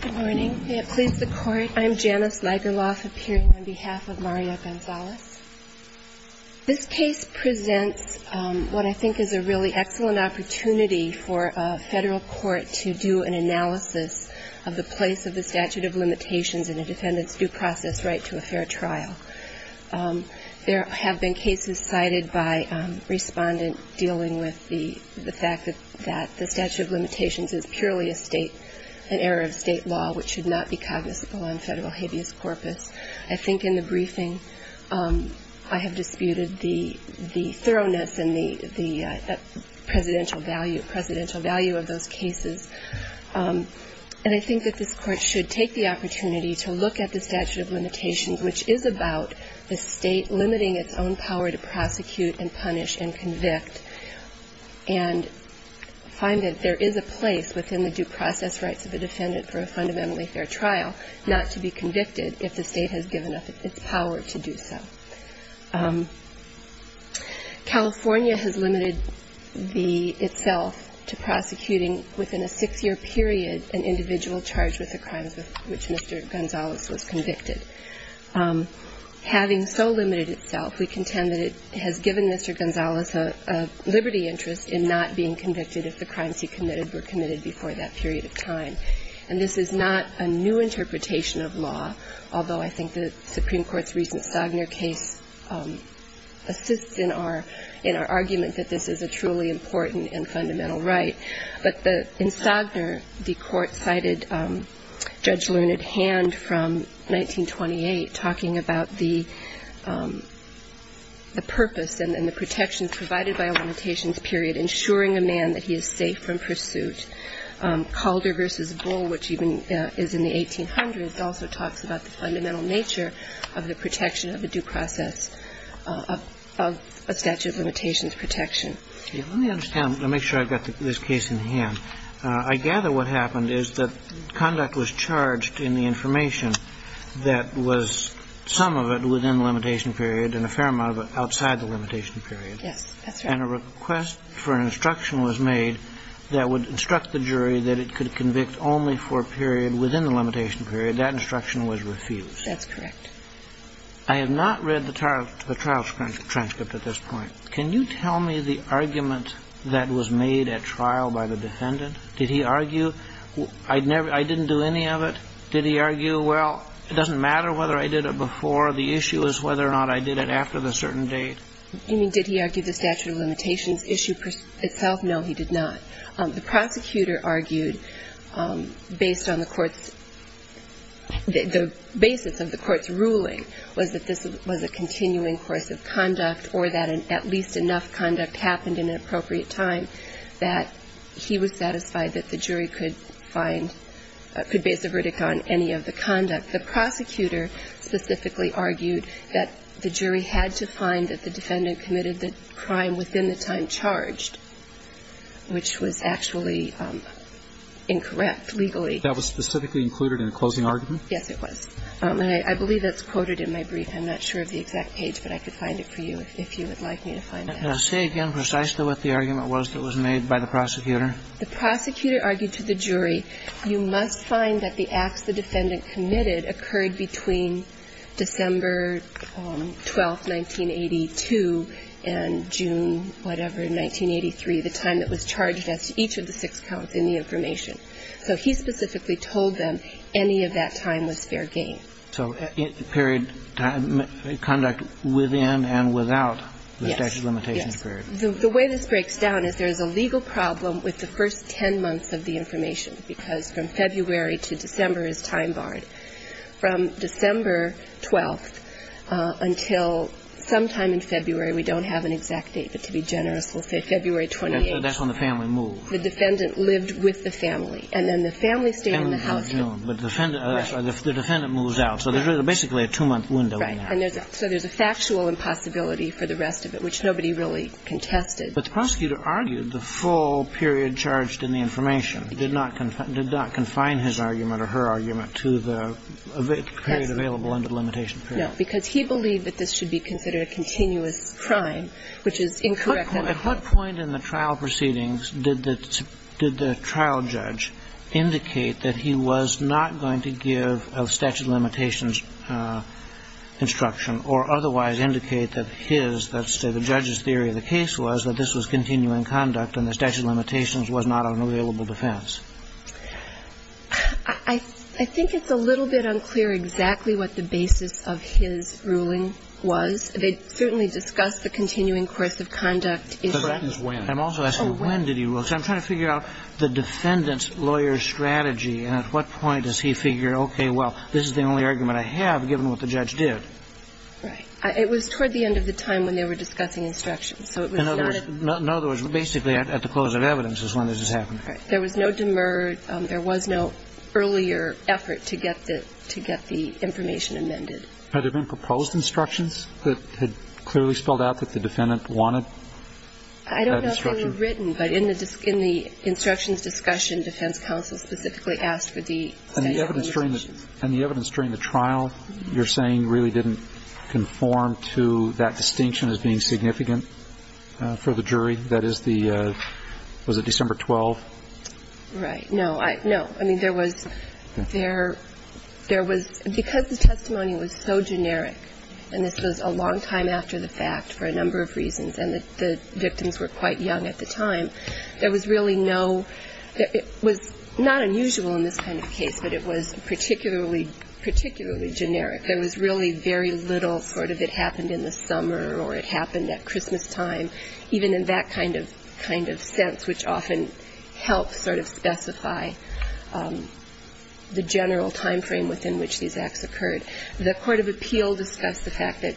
Good morning. May it please the Court, I'm Janice Nigerlof, appearing on behalf of Maria Gonzales. This case presents what I think is a really excellent opportunity for a Federal Court to do an analysis of the place of the statute of limitations in a defendant's due process right to a fair trial. There have been cases cited by Respondent dealing with the fact that the statute of limitations is purely a state, an error of state law which should not be cognizable on Federal habeas corpus. I think in the briefing I have disputed the thoroughness and the presidential value of those cases. And I think that this Court should take the opportunity to look at the statute of limitations, which is about the and find that there is a place within the due process rights of a defendant for a fundamentally fair trial not to be convicted if the State has given up its power to do so. California has limited the – itself to prosecuting within a six-year period an individual charged with the crimes with which Mr. Gonzales was convicted. Having so limited itself, we contend that it has given Mr. Gonzales a liberty interest in not being convicted if the crimes he committed were committed before that period of time. And this is not a new interpretation of law, although I think the Supreme Court's recent Sogner case assists in our – in our argument that this is a truly important and fundamental right. But in Sogner, the Court cited Judge Learned Hand from 1928 talking about the – the purpose and the protections provided by a limitations period, ensuring a man that he is safe from pursuit. Calder v. Bull, which even is in the 1800s, also talks about the fundamental nature of the protection of a due process of a statute of limitations protection. Let me understand – let me make sure I've got this case in hand. I gather what happened is that conduct was charged in the information that was some of it within the limitation period and a fair amount of it outside the limitation period. Yes, that's right. And a request for an instruction was made that would instruct the jury that it could convict only for a period within the limitation period. That instruction was refused. That's correct. I have not read the trial – the trial transcript at this point. Can you tell me the argument that was made at trial by the defendant? Did he argue, I'd never – I didn't do any of it? Did he argue, well, it doesn't matter whether I did it before, the issue is whether or not I did it after the certain date? You mean, did he argue the statute of limitations issue itself? No, he did not. The prosecutor argued based on the court's – the basis of the court's ruling was that this was a continuing course of conduct or that at least enough conduct happened in an appropriate time that he was satisfied that the jury could find – could base a verdict on any of the conduct. The prosecutor specifically argued that the jury had to find that the defendant committed the crime within the time charged, which was actually incorrect legally. That was specifically included in the closing argument? Yes, it was. And I believe that's quoted in my brief. I'm not sure of the exact page, but I could find it for you if you would like me to find that. Say again precisely what the argument was that was made by the prosecutor. The prosecutor argued to the jury, you must find that the acts the defendant committed occurred between December 12, 1982, and June, whatever, in 1983, the time that was charged as to each of the six counts in the information. So he specifically told them any of that time was fair game. So period of conduct within and without the statute of limitations period? Yes. Yes. The way this breaks down is there is a legal problem with the first ten months of the information, because from February to December is time barred. From December 12th until sometime in February, we don't have an exact date, but to be generous, we'll say February 28th. That's when the family moved. The defendant lived with the family. And then the family stayed in the house. The defendant moves out. So there's basically a two-month window in there. Right. So there's a factual impossibility for the rest of it, which nobody really contested. But the prosecutor argued the full period charged in the information did not confine his argument or her argument to the period available under the limitation period. No, because he believed that this should be considered a continuous crime, which is incorrect. At what point in the trial proceedings did the trial judge indicate that he was not going to give a statute of limitations instruction or otherwise indicate that his, that's the judge's theory of the case, was that this was continuing conduct and the statute of limitations was not an available defense? I think it's a little bit unclear exactly what the basis of his ruling was. They certainly discussed the continuing course of conduct. But that is when. I'm also asking when did he rule. Because I'm trying to figure out the defendant's lawyer's strategy. And at what point does he figure, okay, well, this is the only argument I have, given what the judge did. Right. It was toward the end of the time when they were discussing instructions. So it was not at. In other words, basically at the close of evidence is when this is happening. Right. There was no demerit. There was no earlier effort to get the information amended. Had there been proposed instructions that had clearly spelled out that the defendant wanted that instruction? I don't know if they were written. But in the instructions discussion, defense counsel specifically asked for the statute of limitations. And the evidence during the trial, you're saying, really didn't conform to that distinction as being significant for the jury? That is the, was it December 12th? Right. No. No. I mean, there was. There was. Because the testimony was so generic, and this was a long time after the fact for a number of reasons, and the victims were quite young at the time, there was really no, it was not unusual in this kind of case, but it was particularly, particularly generic. There was really very little sort of it happened in the summer or it happened at Christmas time, even in that kind of sense, which often helps sort of specify the general time frame within which these acts occurred. The court of appeal discussed the fact that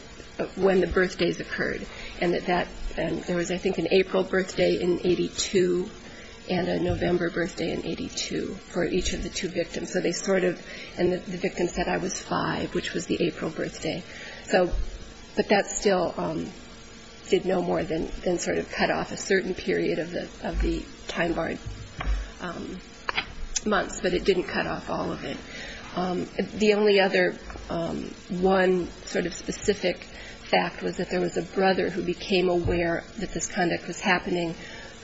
when the birthdays occurred and that there was, I think, an April birthday in 82 and a November birthday in 82 for each of the two victims. So they sort of, and the victim said, I was five, which was the April birthday. So, but that still did no more than sort of cut off a certain period of the time barred months, but it didn't cut off all of it. The only other one sort of specific fact was that there was a brother who became aware that this conduct was happening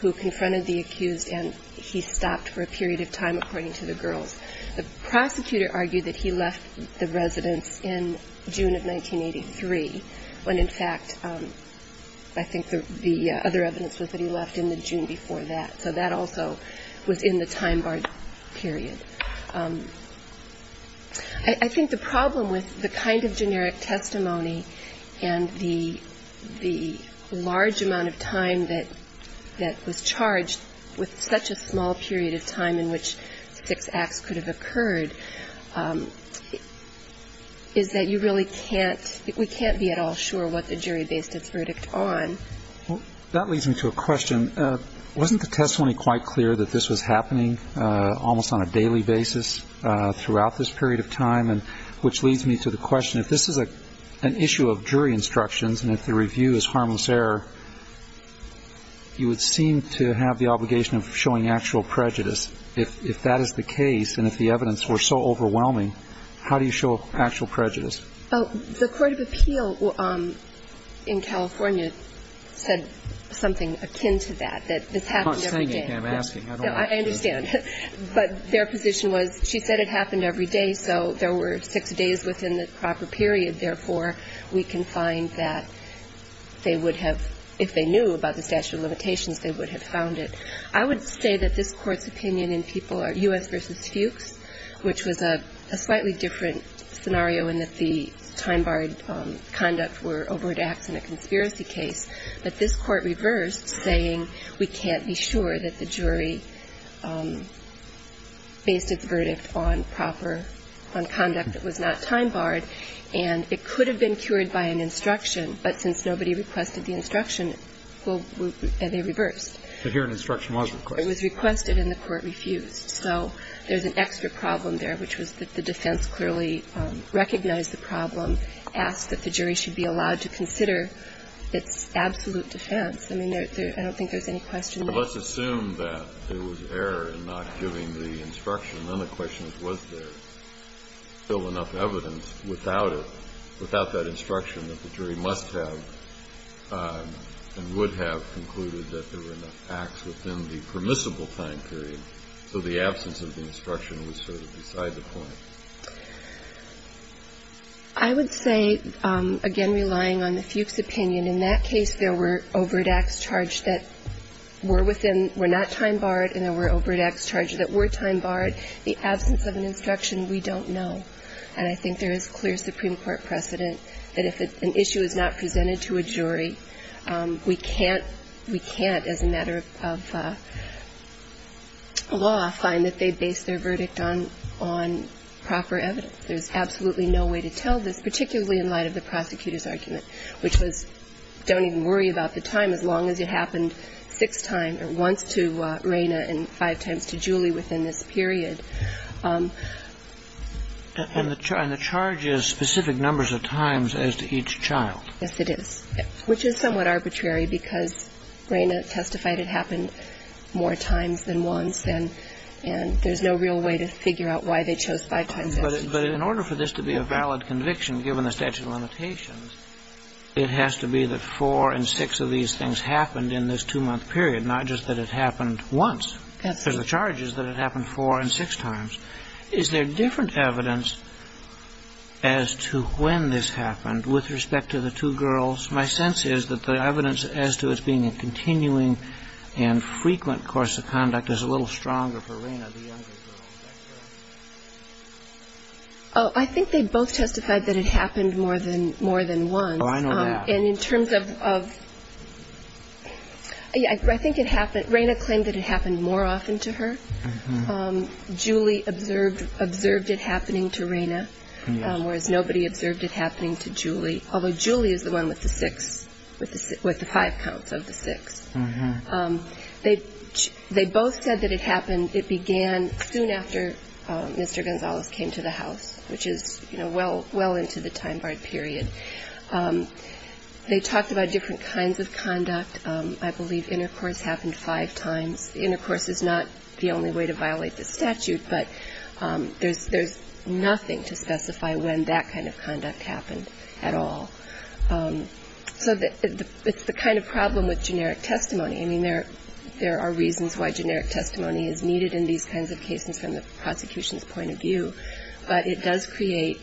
who confronted the accused and he stopped for a period of time, according to the girls. The prosecutor argued that he left the residence in June of 1983, when in fact, I think the other evidence was that he left in the June before that. I think the problem with the kind of generic testimony and the large amount of time that was charged with such a small period of time in which six acts could have occurred is that you really can't, we can't be at all sure what the jury based its verdict on. Well, that leads me to a question, wasn't the testimony quite clear that this was happening almost on a daily basis throughout this period of time and which leads me to the question, if this is an issue of jury instructions and if the review is harmless error, you would seem to have the obligation of showing actual prejudice. If that is the case and if the evidence were so overwhelming, how do you show actual Well, I think the jury's position was that the judge in California said something akin to that, that this happened every day. I'm not saying it, I'm asking. I don't want to. I understand. But their position was she said it happened every day, so there were six days within the proper period. Therefore, we can find that they would have, if they knew about the statute of limitations, they would have found it. I would say that this Court's opinion in people are U.S. versus Fuchs, which was a slightly different scenario in that the time-barred conduct were overreacts in a conspiracy case. But this Court reversed, saying we can't be sure that the jury based its verdict on proper, on conduct that was not time-barred, and it could have been cured by an instruction. But since nobody requested the instruction, well, they reversed. But here an instruction was requested. It was requested and the Court refused. So there's an extra problem there, which was that the defense clearly recognized the problem, asked that the jury should be allowed to consider its absolute defense. I mean, I don't think there's any question there. Well, let's assume that there was error in not giving the instruction. Then the question is, was there still enough evidence without it, without that instruction that the jury must have and would have concluded that there were enough acts within the permissible time period, so the absence of the instruction was sort of beside the point? I would say, again, relying on the Fuchs opinion, in that case there were overreacts charged that were within, were not time-barred, and there were overreacts charged that were time-barred. The absence of an instruction, we don't know. And I think there is clear Supreme Court precedent that if an issue is not presented to a jury, we can't, we can't as a matter of law find that they base their verdict on, on proper evidence. There's absolutely no way to tell this, particularly in light of the prosecutor's argument, which was don't even worry about the time as long as it happened six times or once to Rayna and five times to Julie within this period. And the charge is specific numbers of times as to each child. Yes, it is. Which is somewhat arbitrary because Rayna testified it happened more times than once and there's no real way to figure out why they chose five times as each child. But in order for this to be a valid conviction, given the statute of limitations, it has to be that four and six of these things happened in this two-month period, not just that it happened once. Because the charge is that it happened four and six times. Is there different evidence as to when this happened with respect to the two girls? My sense is that the evidence as to it being a continuing and frequent course of conduct is a little stronger for Rayna, the younger girl. I think they both testified that it happened more than once. Oh, I know that. And in terms of Rayna claimed that it happened more often to her. Julie observed it happening to Rayna, whereas nobody observed it happening to Julie, although Julie is the one with the five counts of the six. They both said that it happened, it began soon after Mr. Gonzalez came to the house, which is, you know, well into the time barred period. They talked about different kinds of conduct. I believe intercourse happened five times. Intercourse is not the only way to violate the statute, but there's nothing to specify when that kind of conduct happened at all. So it's the kind of problem with generic testimony. I mean, there are reasons why generic testimony is needed in these kinds of cases from the prosecution's point of view, but it does create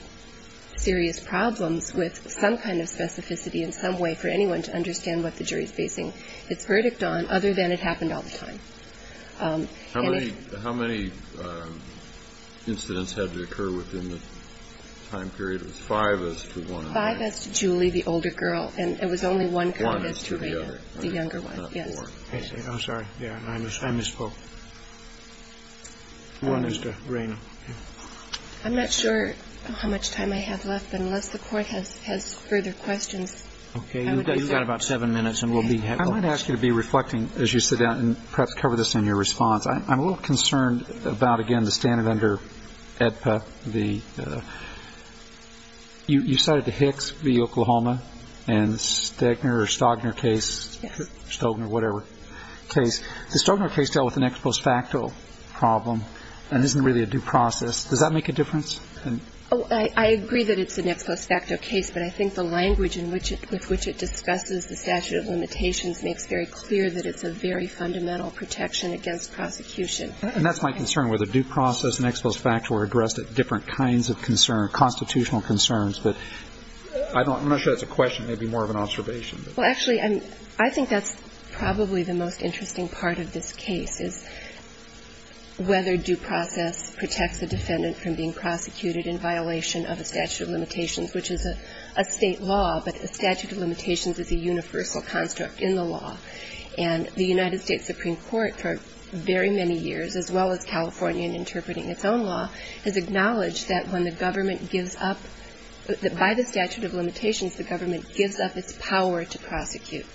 serious problems with some kind of specificity in some way for anyone to understand what the jury is basing its verdict on, other than it happened all the time. How many incidents had to occur within the time period? Five as to one. Five as to Julie, the older girl, and it was only one conduct to Rayna, the younger one. I'm sorry. I misspoke. One is to Rayna. I'm not sure how much time I have left, but unless the Court has further questions. Okay. You've got about seven minutes, and we'll be happy. I might ask you to be reflecting as you sit down and perhaps cover this in your response. I'm a little concerned about, again, the standard under AEDPA. You cited the Hicks v. Oklahoma and Stegner or Stogner case, Stogner, whatever, case. The Stogner case dealt with an ex post facto problem and isn't really a due process. Does that make a difference? Oh, I agree that it's an ex post facto case, but I think the language with which it discusses the statute of limitations makes very clear that it's a very fundamental protection against prosecution. And that's my concern, whether due process and ex post facto are addressed at different kinds of constitutional concerns. But I'm not sure that's a question. Maybe more of an observation. Well, actually, I think that's probably the most interesting part of this case, is whether due process protects a defendant from being prosecuted in violation of a statute of limitations, which is a State law, but a statute of limitations is a universal construct in the law. And the United States Supreme Court, for very many years, as well as California in interpreting its own law, has acknowledged that when the government gives up, that by the statute of limitations, the government gives up its power to prosecute.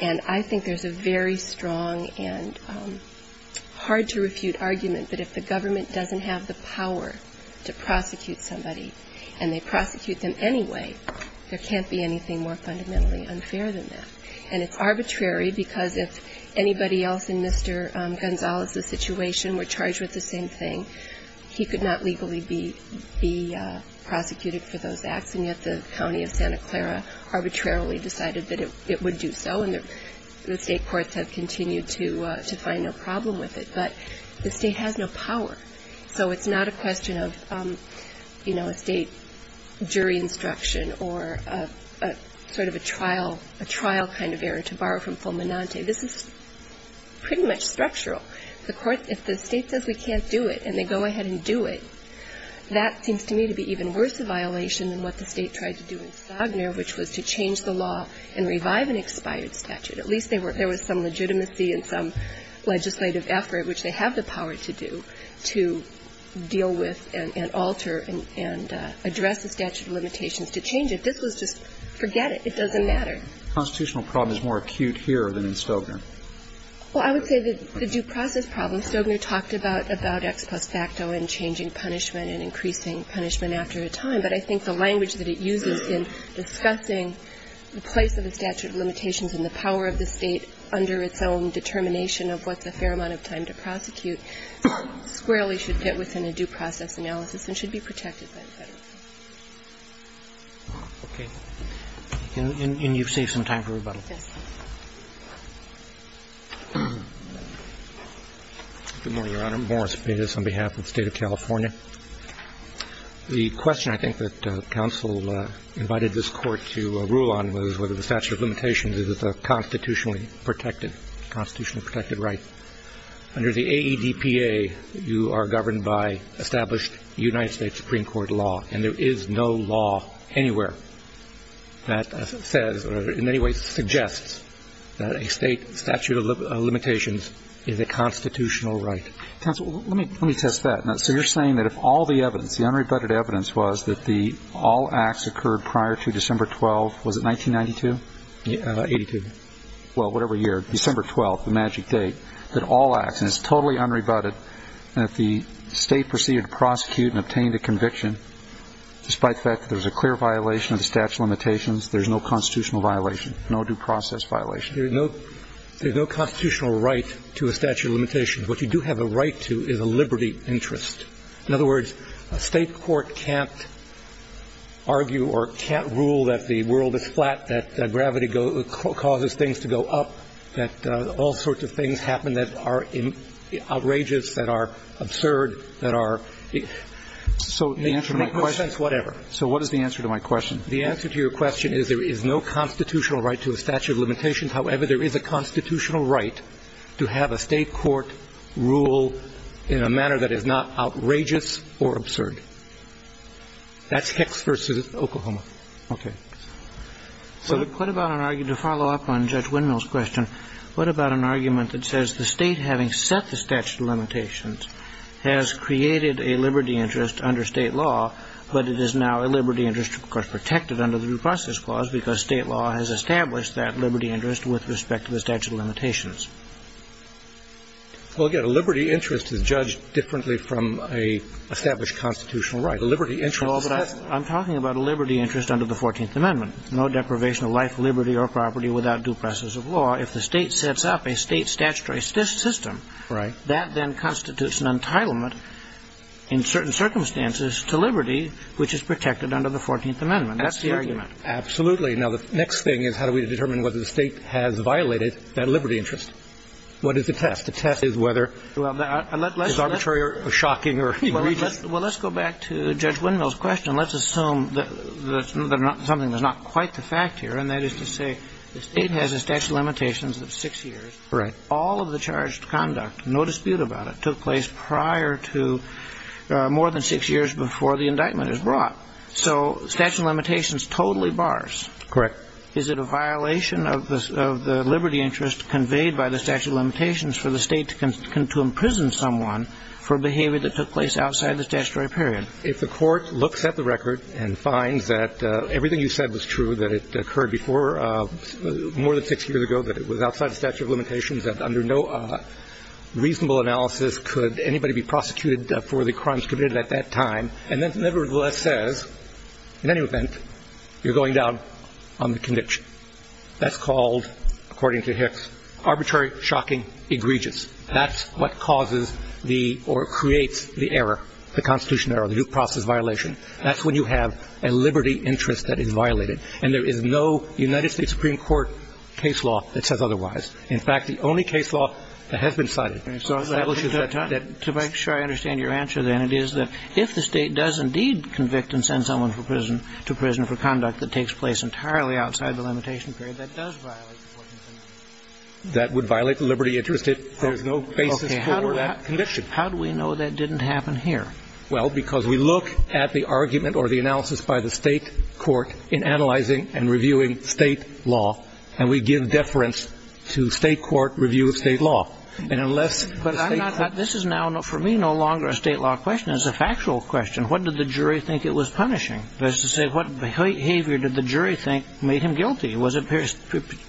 And I think there's a very strong and hard-to-refute argument that if the government doesn't have the power to prosecute somebody, and they prosecute them anyway, there can't be anything more fundamentally unfair than that. And it's arbitrary, because if anybody else in Mr. Gonzalez's situation were charged with the same thing, he could not legally be prosecuted for those acts, and yet the County of Santa Clara arbitrarily decided that it would do so, and the State courts have continued to find no problem with it. But the State has no power. So it's not a question of, you know, a State jury instruction or a sort of a trial kind of error, to borrow from Fulminante. This is pretty much structural. If the State says we can't do it, and they go ahead and do it, that seems to me to be even worse a violation than what the State tried to do in Sogner, which was to change the law and revive an expired statute. At least there was some legitimacy and some legislative effort, which they have the power to do, to deal with and alter and address the statute of limitations to change it. This was just forget it. It doesn't matter. The constitutional problem is more acute here than in Sogner. Well, I would say that the due process problem, Sogner talked about X plus facto and changing punishment and increasing punishment after a time, but I think the language that it uses in discussing the place of the statute of limitations and the power of the State under its own determination of what's a fair amount of time to prosecute squarely should fit within a due process analysis and should be protected by the Federal Court. Roberts. And you've saved some time for rebuttal. Yes. Good morning, Your Honor. Morris Bates on behalf of the State of California. The question I think that counsel invited this Court to rule on was whether the statute of limitations is a constitutionally protected right. Under the AEDPA, you are governed by established United States Supreme Court law, and there is no law anywhere that says or in any way suggests that a state statute of limitations is a constitutional right. Counsel, let me test that. So you're saying that if all the evidence, the unrebutted evidence, was that the all acts occurred prior to December 12th, was it 1992? 82. Well, whatever year, December 12th, the magic date, that all acts, and it's totally unrebutted, and if the State proceeded to prosecute and obtained a conviction, despite the fact that there's a clear violation of the statute of limitations, there's no constitutional violation, no due process violation? There's no constitutional right to a statute of limitations. What you do have a right to is a liberty interest. In other words, a State court can't argue or can't rule that the world is flat, that gravity causes things to go up, that all sorts of things happen that are outrageous, that are absurd, that are the answer to my question. So in a sense, whatever. So what is the answer to my question? The answer to your question is there is no constitutional right to a statute of limitations. However, there is a constitutional right to have a State court rule in a manner that is not outrageous or absurd. That's Hicks v. Oklahoma. Okay. So what about an argument, to follow up on Judge Windmill's question, what about an argument that says the State, having set the statute of limitations, has created a liberty interest under State law, but it is now a liberty interest, of course, protected under the due process clause, because State law has established that liberty interest with respect to the statute of limitations? Well, again, a liberty interest is judged differently from an established constitutional right. A liberty interest is just... Well, but I'm talking about a liberty interest under the 14th Amendment. No deprivation of life, liberty, or property without due process of law. If the State sets up a State statutory system... Right. ...that then constitutes an entitlement in certain circumstances to liberty, which is protected under the 14th Amendment. That's the argument. Absolutely. Now, the next thing is how do we determine whether the State has violated that liberty interest? What is the test? The test is whether... Well, let's... ...it's arbitrary or shocking or... Well, let's go back to Judge Windmill's question. Let's assume that there's something that's not quite the fact here, and that is to say the State has a statute of limitations of six years. Right. All of the charged conduct, no dispute about it, took place prior to more than six years before the indictment is brought. So statute of limitations totally bars? Correct. Is it a violation of the liberty interest conveyed by the statute of limitations for the State to imprison someone for behavior that took place outside the statutory period? If the Court looks at the record and finds that everything you said was true, that it occurred before more than six years ago, that it was outside the statute of limitations, that under no reasonable analysis could anybody be prosecuted for the crimes committed at that time, and that nevertheless says, in any event, you're going down on the conviction, that's called, according to Hicks, arbitrary, shocking, egregious. That's what causes the or creates the error, the Constitution error, the due process violation. That's when you have a liberty interest that is violated. And there is no United States Supreme Court case law that says otherwise. In fact, the only case law that has been cited... But to make sure I understand your answer, then, it is that if the State does indeed convict and send someone for prison, to prison for conduct that takes place entirely outside the limitation period, that does violate the Court's... That would violate the liberty interest if there's no basis for that conviction. How do we know that didn't happen here? Well, because we look at the argument or the analysis by the State court in analyzing and reviewing State law, and we give deference to State court review of State law. And unless... But I'm not... This is now, for me, no longer a State law question. It's a factual question. What did the jury think it was punishing? That is to say, what behavior did the jury think made him guilty? Was it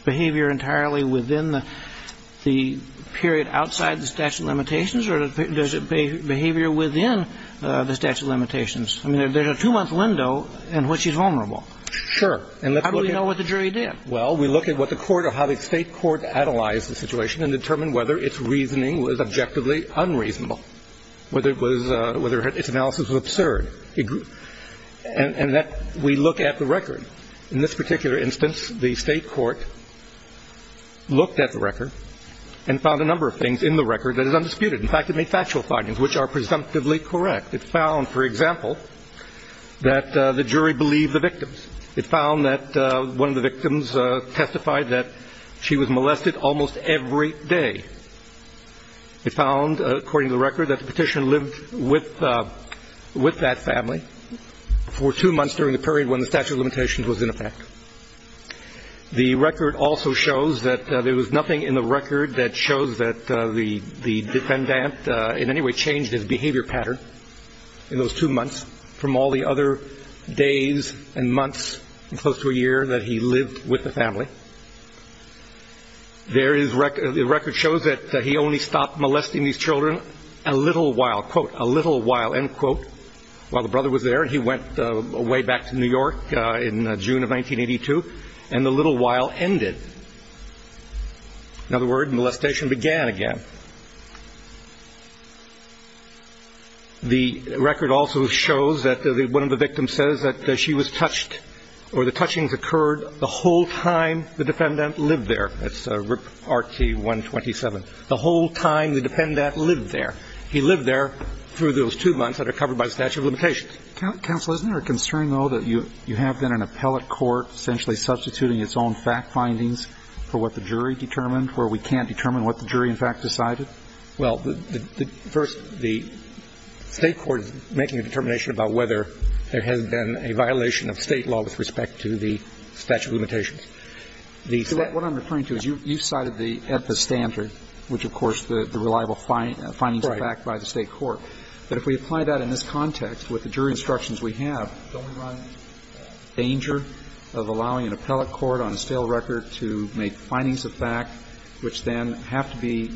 behavior entirely within the period outside the statute of limitations, or does it be behavior within the statute of limitations? I mean, there's a two-month window in which he's vulnerable. Sure. And let's look at... How do we know what the jury did? Well, we look at what the court or how the State court analyzed the situation and determined whether its reasoning was objectively unreasonable, whether it was... Whether its analysis was absurd. And that we look at the record. In this particular instance, the State court looked at the record and found a number of things in the record that is undisputed. In fact, it made factual findings which are presumptively correct. It found, for example, that the jury believed the victims. It found that one of the victims testified that she was molested almost every day. It found, according to the record, that the petitioner lived with that family for two months during the period when the statute of limitations was in effect. The record also shows that there was nothing in the record that shows that the defendant in any way changed his behavior pattern in those two months from all the other days and months and close to a year that he lived with the family. The record shows that he only stopped molesting these children a little while. Quote, a little while. End quote. While the brother was there, he went way back to New York in June of 1982, and the little while ended. In other words, molestation began again. The record also shows that one of the victims says that she was touched or the touchings occurred the whole time the defendant lived there. That's Rt. 127. The whole time the defendant lived there. He lived there through those two months that are covered by the statute of limitations. Counsel, isn't there a concern, though, that you have then an appellate court essentially substituting its own fact findings for what the jury determined where we can't determine what the jury in fact decided? Well, first, the State court is making a determination about whether there has been a violation of State law with respect to the statute of limitations. What I'm referring to is you cited the EPA standard, which, of course, the reliable findings of fact by the State court. But if we apply that in this context with the jury instructions we have, don't we run the danger of allowing an appellate court on a stale record to make findings of fact which then have to be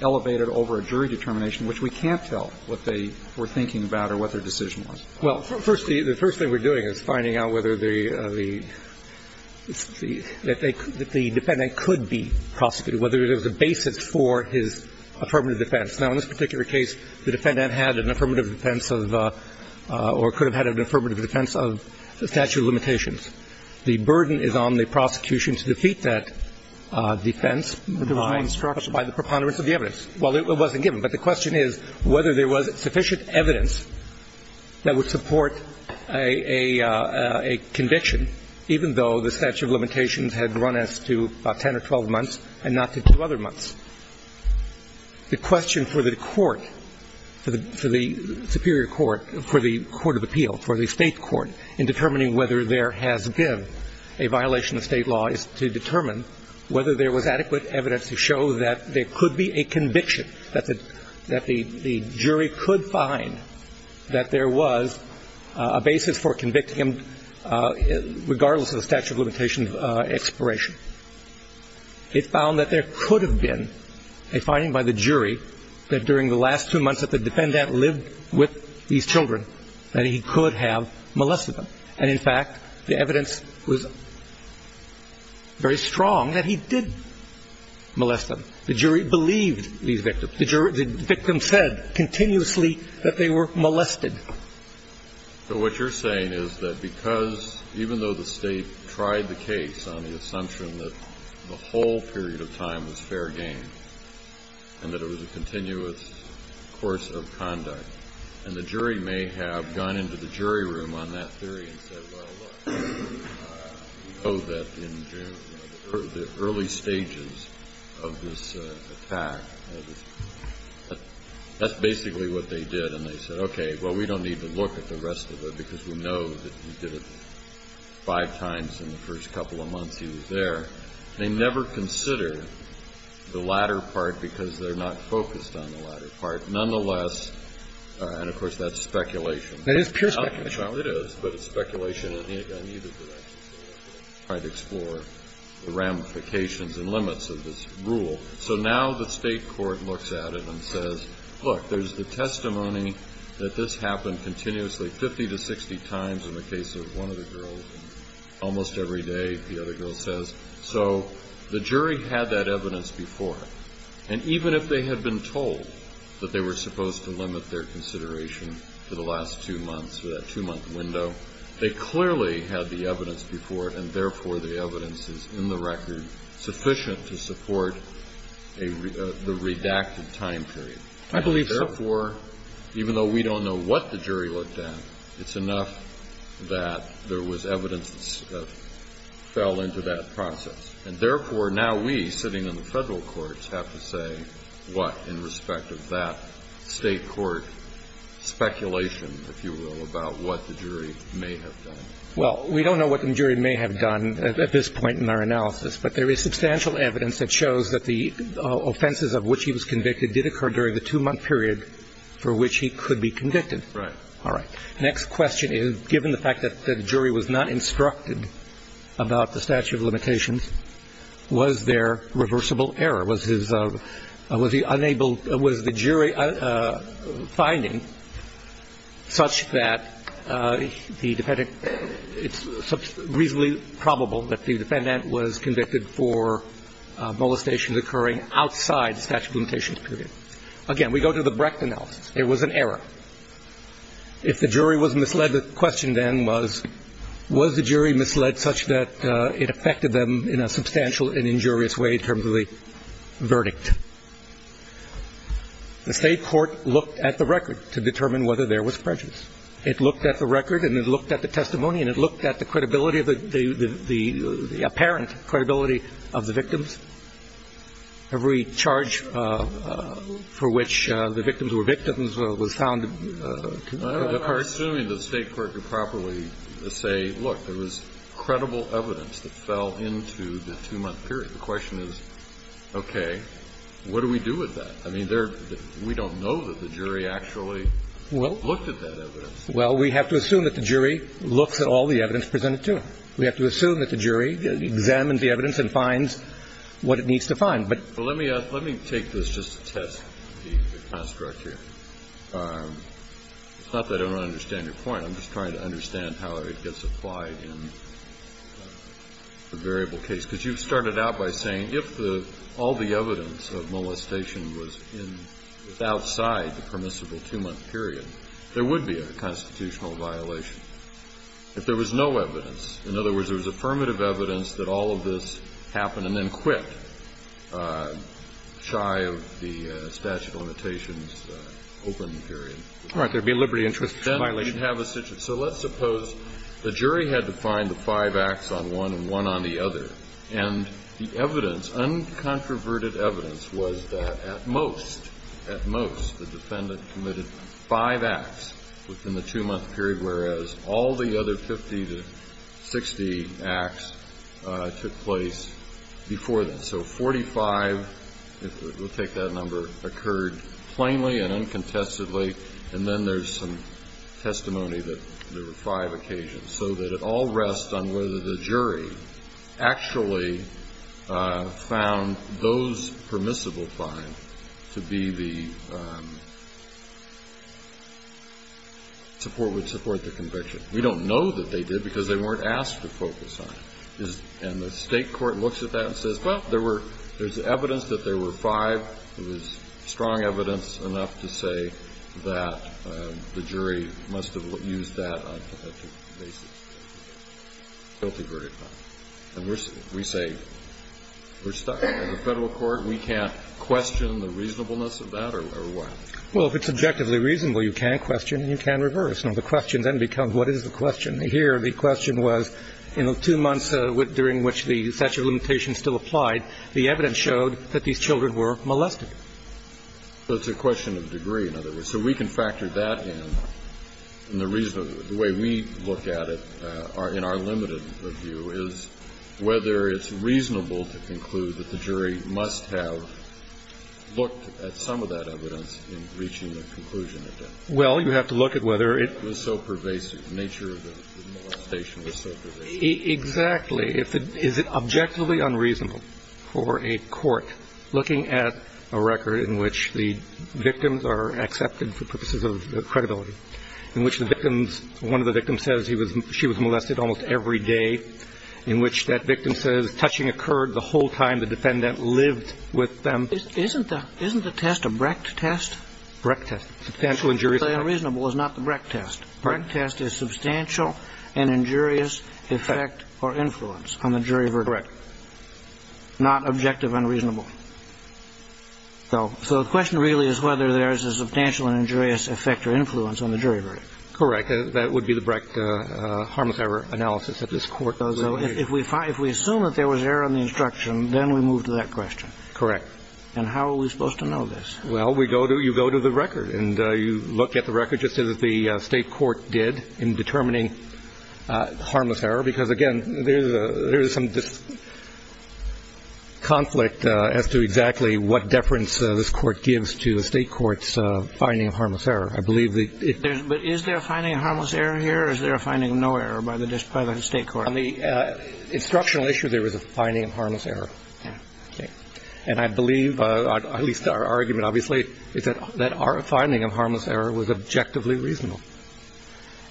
elevated over a jury determination, which we can't tell what they were thinking about or what their decision was? Well, first, the first thing we're doing is finding out whether the defendant could be prosecuted, whether there was a basis for his affirmative defense. Now, in this particular case, the defendant had an affirmative defense of or could have had an affirmative defense of the statute of limitations. The burden is on the prosecution to defeat that defense by the preponderance of the evidence. Well, it wasn't given. But the question is whether there was sufficient evidence that would support a conviction, even though the statute of limitations had run us to about 10 or 12 months and not to two other months. The question for the court, for the superior court, for the court of appeal, for the State court in determining whether there has been a violation of State law is to determine whether there was adequate evidence to show that there could be a conviction, that the jury could find that there was a basis for convicting him regardless of the statute of limitations expiration. It found that there could have been a finding by the jury that during the last two months that the defendant lived with these children, that he could have molested them. And, in fact, the evidence was very strong that he did molest them. The jury believed these victims. The victims said continuously that they were molested. So what you're saying is that because even though the State tried the case on the assumption that the whole period of time was fair game and that it was a continuous course of conduct, and the jury may have gone into the jury room on that theory and said, well, we know that in the early stages of this attack, that's basically what they did, and they said, okay, well, we don't need to look at the rest of it because we know that he did it five times in the first couple of months he was there. They never consider the latter part because they're not focused on the latter part. Nonetheless, and, of course, that's speculation. Roberts. That is pure speculation. McConnell. It is, but it's speculation. And neither did I. I tried to explore the ramifications and limits of this rule. So now the State court looks at it and says, look, there's the testimony that this was done 60 times in the case of one of the girls, and almost every day the other girl says. So the jury had that evidence before. And even if they had been told that they were supposed to limit their consideration for the last two months, for that two-month window, they clearly had the evidence before, and therefore the evidence is in the record sufficient to support the redacted time period. I believe so. And therefore, even though we don't know what the jury looked at, it's enough that there was evidence that fell into that process. And therefore, now we, sitting in the Federal courts, have to say what in respect of that State court speculation, if you will, about what the jury may have done. Well, we don't know what the jury may have done at this point in our analysis, but there is substantial evidence that shows that the offenses of which he was convicted did occur during the two-month period for which he could be convicted. Right. All right. Next question is, given the fact that the jury was not instructed about the statute of limitations, was there reversible error? Was his unable – was the jury finding such that the defendant – it's reasonably probable that the defendant was convicted for molestations occurring outside the statute of limitations period? Again, we go to the Brecht analysis. It was an error. If the jury was misled, the question then was, was the jury misled such that it affected them in a substantial and injurious way in terms of the verdict? The State court looked at the record to determine whether there was prejudice. It looked at the record and it looked at the testimony and it looked at the credibility of the – the apparent credibility of the victims. Every charge for which the victims were victims was found. I'm assuming the State court could properly say, look, there was credible evidence that fell into the two-month period. The question is, okay, what do we do with that? I mean, there – we don't know that the jury actually looked at that evidence. Well, we have to assume that the jury looks at all the evidence presented to them. We have to assume that the jury examines the evidence and finds what it needs to find. But – Well, let me – let me take this just to test the construct here. It's not that I don't understand your point. I'm just trying to understand how it gets applied in the variable case. Because you started out by saying if the – all the evidence of molestation was in – outside the permissible two-month period, there would be a constitutional violation. If there was no evidence, in other words, there was affirmative evidence that all of this happened and then quit, shy of the statute of limitations open period. All right. There would be a liberty interest violation. Then we'd have a situation. So let's suppose the jury had to find the five acts on one and one on the other, and the evidence, uncontroverted evidence, was that at most, at most, the defendant committed five acts within the two-month period, whereas all the other 50 to 60 acts took place before that. So 45, we'll take that number, occurred plainly and uncontestedly, and then there's some testimony that there were five occasions. So that it all rests on whether the jury actually found those permissible fines to be the – would support the conviction. We don't know that they did because they weren't asked to focus on it. And the state court looks at that and says, well, there's evidence that there were five. There was strong evidence enough to say that the jury must have used that on a pathetic basis. Guilty verdict. And we say we're stuck. As a Federal court, we can't question the reasonableness of that or what? Well, if it's objectively reasonable, you can question and you can reverse. Now, the question then becomes, what is the question? Here, the question was, in the two months during which the statute of limitations still applied, the evidence showed that these children were molested. So it's a question of degree, in other words. So we can factor that in. And the reason – the way we look at it in our limited view is whether it's reasonable to conclude that the jury must have looked at some of that evidence in reaching a conclusion. Well, you have to look at whether it was so pervasive. The nature of the molestation was so pervasive. Exactly. Is it objectively unreasonable for a court looking at a record in which the victims are accepted for purposes of credibility, in which the victims – one of the victims says she was molested almost every day, in which that victim says touching occurred the whole time the defendant lived with them? Isn't the test a Brecht test? Brecht test. Substantial injurious effect. Objectively unreasonable is not the Brecht test. Brecht test is substantial and injurious effect or influence on the jury verdict. Correct. Not objective unreasonable. So the question really is whether there's a substantial and injurious effect or influence on the jury verdict. Correct. That would be the Brecht harmless error analysis that this Court does. So if we find – if we assume that there was error in the instruction, then we move to that question. Correct. And how are we supposed to know this? Well, we go to – you go to the record, and you look at the record just as the State Court did in determining harmless error, because, again, there's a – there's some conflict as to exactly what deference this Court gives to the State Court's finding of harmless error. I believe the – But is there a finding of harmless error here, or is there a finding of no error by the State Court? On the instructional issue, there is a finding of harmless error. Okay. And I believe – at least our argument, obviously, is that our finding of harmless error was objectively reasonable.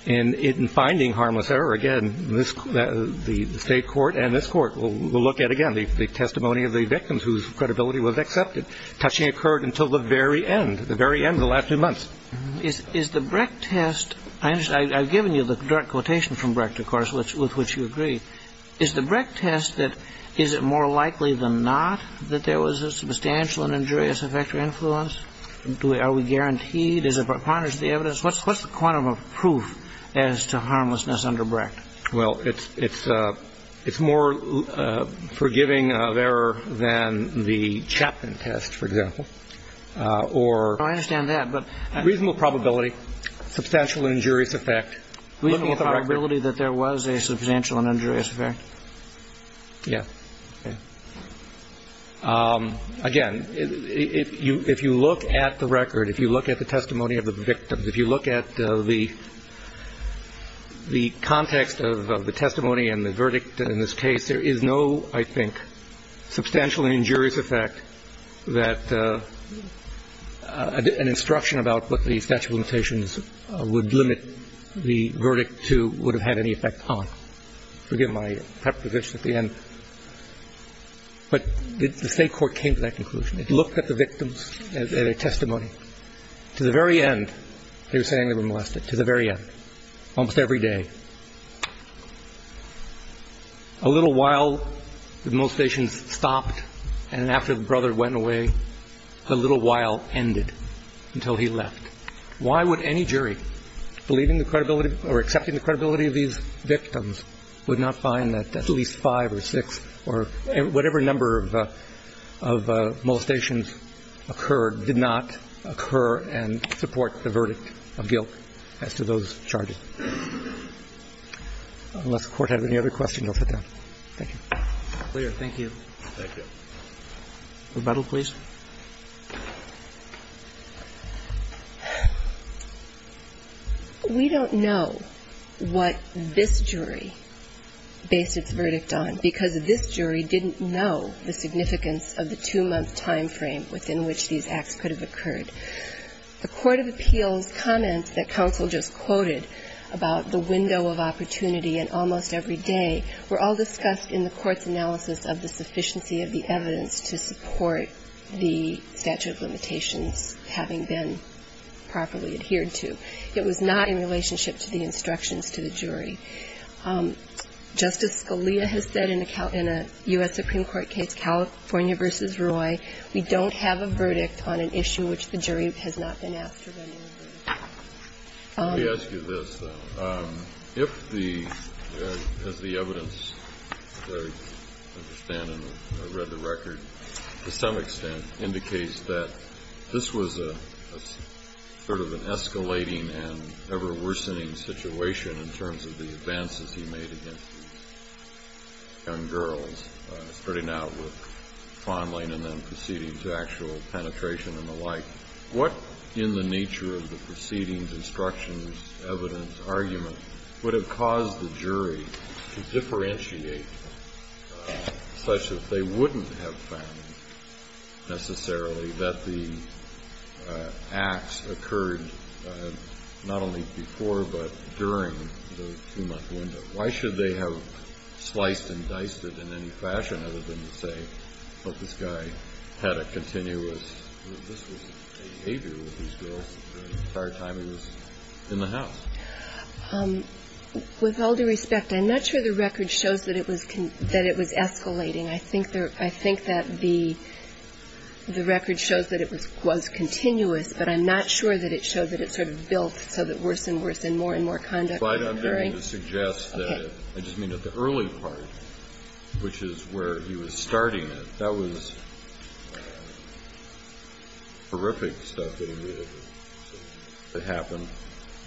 And in finding harmless error, again, this – the State Court and this Court will look at, again, the testimony of the victims whose credibility was accepted. Touching occurred until the very end, the very end of the last few months. Is the Brecht test – I understand. I've given you the direct quotation from Brecht, of course, with which you agree. Is the Brecht test that – is it more likely than not that there was a substantial and injurious effect or influence? Are we guaranteed? Is it part of the evidence? What's the quantum of proof as to harmlessness under Brecht? Well, it's – it's more forgiving of error than the Chapman test, for example, or – I understand that, but – Reasonable probability, substantial injurious effect. Reasonable probability that there was a substantial and injurious effect. Yeah. Okay. Again, if you look at the record, if you look at the testimony of the victims, if you look at the context of the testimony and the verdict in this case, there is no, I think, substantial injurious effect that – an instruction about what the statute of limitations would limit the verdict to would have had any effect on. Forgive my preposition at the end. But the State court came to that conclusion. It looked at the victims as a testimony. To the very end, they were saying they were molested. To the very end. Almost every day. A little while the motivations stopped, and after the brother went away, a little while ended until he left. Why would any jury believing the credibility or accepting the credibility of these victims would not find that at least five or six or whatever number of molestations occurred did not occur and support the verdict of guilt as to those charges? Unless the Court has any other questions, I'll sit down. Thank you. Thank you. Thank you. Rebuttal, please. We don't know what this jury based its verdict on because this jury didn't know the significance of the two-month time frame within which these acts could have occurred. The court of appeals comments that counsel just quoted about the window of opportunity and almost every day were all discussed in the court's analysis of the sufficiency of the evidence to support the statute of limitations having been properly adhered to. It was not in relationship to the instructions to the jury. Justice Scalia has said in a U.S. Supreme Court case, California v. Roy, we don't have a verdict on an issue which the jury has not been asked for any other. Let me ask you this, though. If the – as the evidence, I understand and I read the record, to some extent indicates that this was a sort of an escalating and ever-worsening situation in terms of the advances he made against these young girls, starting out with fondling and then proceeding to actual penetration and the like, what, in the nature of the proceedings, instructions, evidence, argument, would have caused the jury to differentiate such that they wouldn't have found necessarily that the acts occurred not only before but during the two-month window? Why should they have sliced and diced it in any fashion other than to say, Well, this guy had a continuous – this was behavior with these girls the entire time he was in the house. With all due respect, I'm not sure the record shows that it was escalating. I think that the record shows that it was continuous, but I'm not sure that it showed that it sort of built so that worse and worse and more and more conduct was occurring. So I don't mean to suggest that it – I just mean that the early part, which is where he was starting it, that was horrific stuff that immediately happened,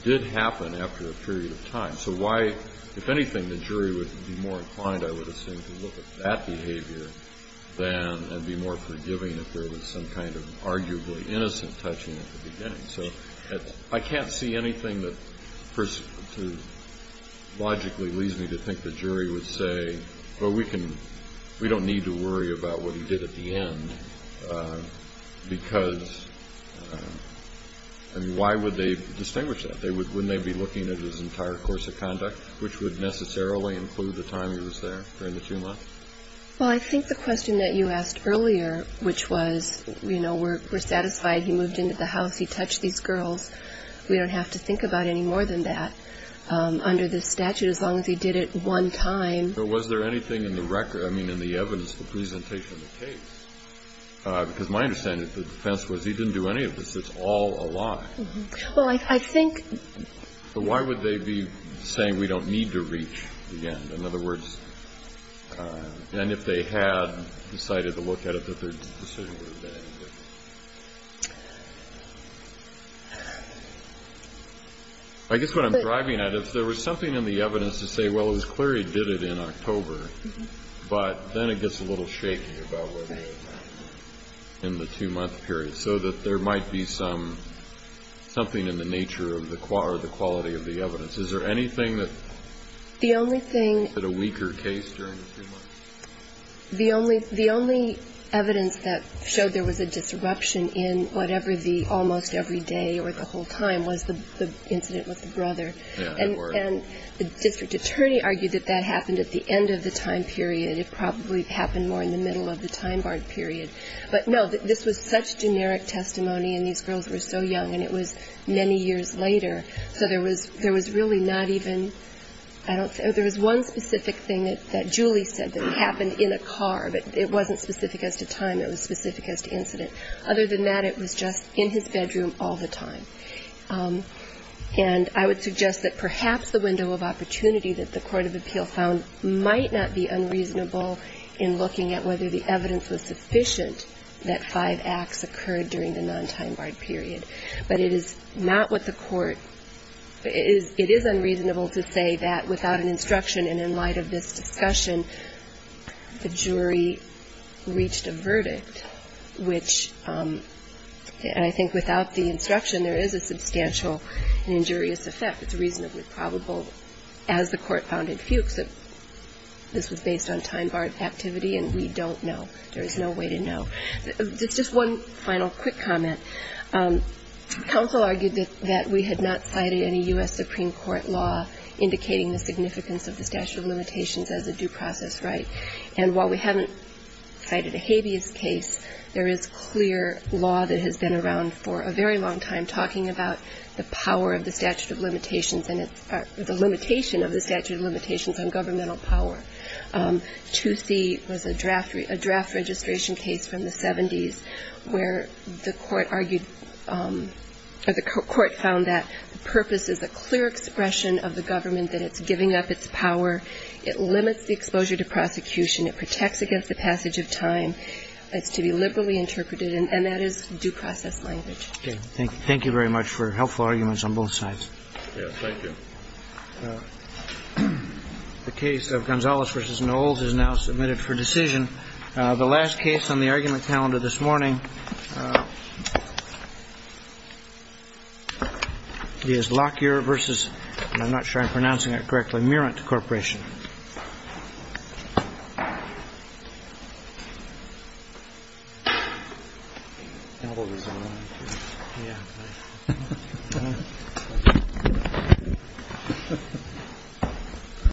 did happen after a period of time. So why – if anything, the jury would be more inclined, I would assume, to look at that behavior than – and be more forgiving if there was some kind of arguably innocent touching at the beginning. So I can't see anything that logically leads me to think the jury would say, Well, we don't need to worry about what he did at the end because – I mean, why would they distinguish that? Wouldn't they be looking at his entire course of conduct, which would necessarily include the time he was there during the two months? Well, I think the question that you asked earlier, which was, you know, we're satisfied he moved into the house, he touched these girls. We don't have to think about any more than that under this statute as long as he did it one time. But was there anything in the record – I mean, in the evidence, the presentation of the case? Because my understanding of the defense was he didn't do any of this. It's all a lie. Well, I think – But why would they be saying we don't need to reach the end? In other words – and if they had decided to look at it, that their decision would have been different. I guess what I'm driving at, if there was something in the evidence to say, Well, it was clear he did it in October, but then it gets a little shaky about whether it's in the two-month period. So that there might be some – something in the nature of the – or the quality of the evidence. Is there anything that – The only thing – Is it a weaker case during the two months? The only – the only evidence that showed there was a disruption in whatever the – almost every day or the whole time was the incident with the brother. Yeah, there were. And the district attorney argued that that happened at the end of the time period. It probably happened more in the middle of the time barred period. But, no, this was such generic testimony, and these girls were so young, and it was many years later. So there was – there was really not even – I don't – there was one specific thing that Julie said that happened in a car, but it wasn't specific as to time. It was specific as to incident. Other than that, it was just in his bedroom all the time. And I would suggest that perhaps the window of opportunity that the court of appeal found might not be unreasonable in looking at whether the evidence was sufficient that five acts occurred during the non-time barred period. But it is not what the court – it is unreasonable to say that without an instruction and in light of this discussion, the jury reached a verdict which – and I think without the instruction, there is a substantial injurious effect. It's reasonably probable as the court found in Fuchs that this was based on time barred activity, and we don't know. There is no way to know. Just one final quick comment. Counsel argued that we had not cited any U.S. Supreme Court law indicating the significance of the statute of limitations as a due process right. And while we haven't cited a habeas case, there is clear law that has been around for a very long time talking about the power of the statute of limitations and the limitation of the statute of limitations on governmental power. 2C was a draft – a draft registration case from the 70s where the court argued – or the court found that the purpose is a clear expression of the government and that it's giving up its power. It limits the exposure to prosecution. It protects against the passage of time. It's to be liberally interpreted, and that is due process language. Okay. Thank you very much for helpful arguments on both sides. Yes. Thank you. The case of Gonzalez v. Knowles is now submitted for decision. The last case on the argument calendar this morning is Lockyer v. – I'm not sure if I'm pronouncing that correctly – Murant Corporation.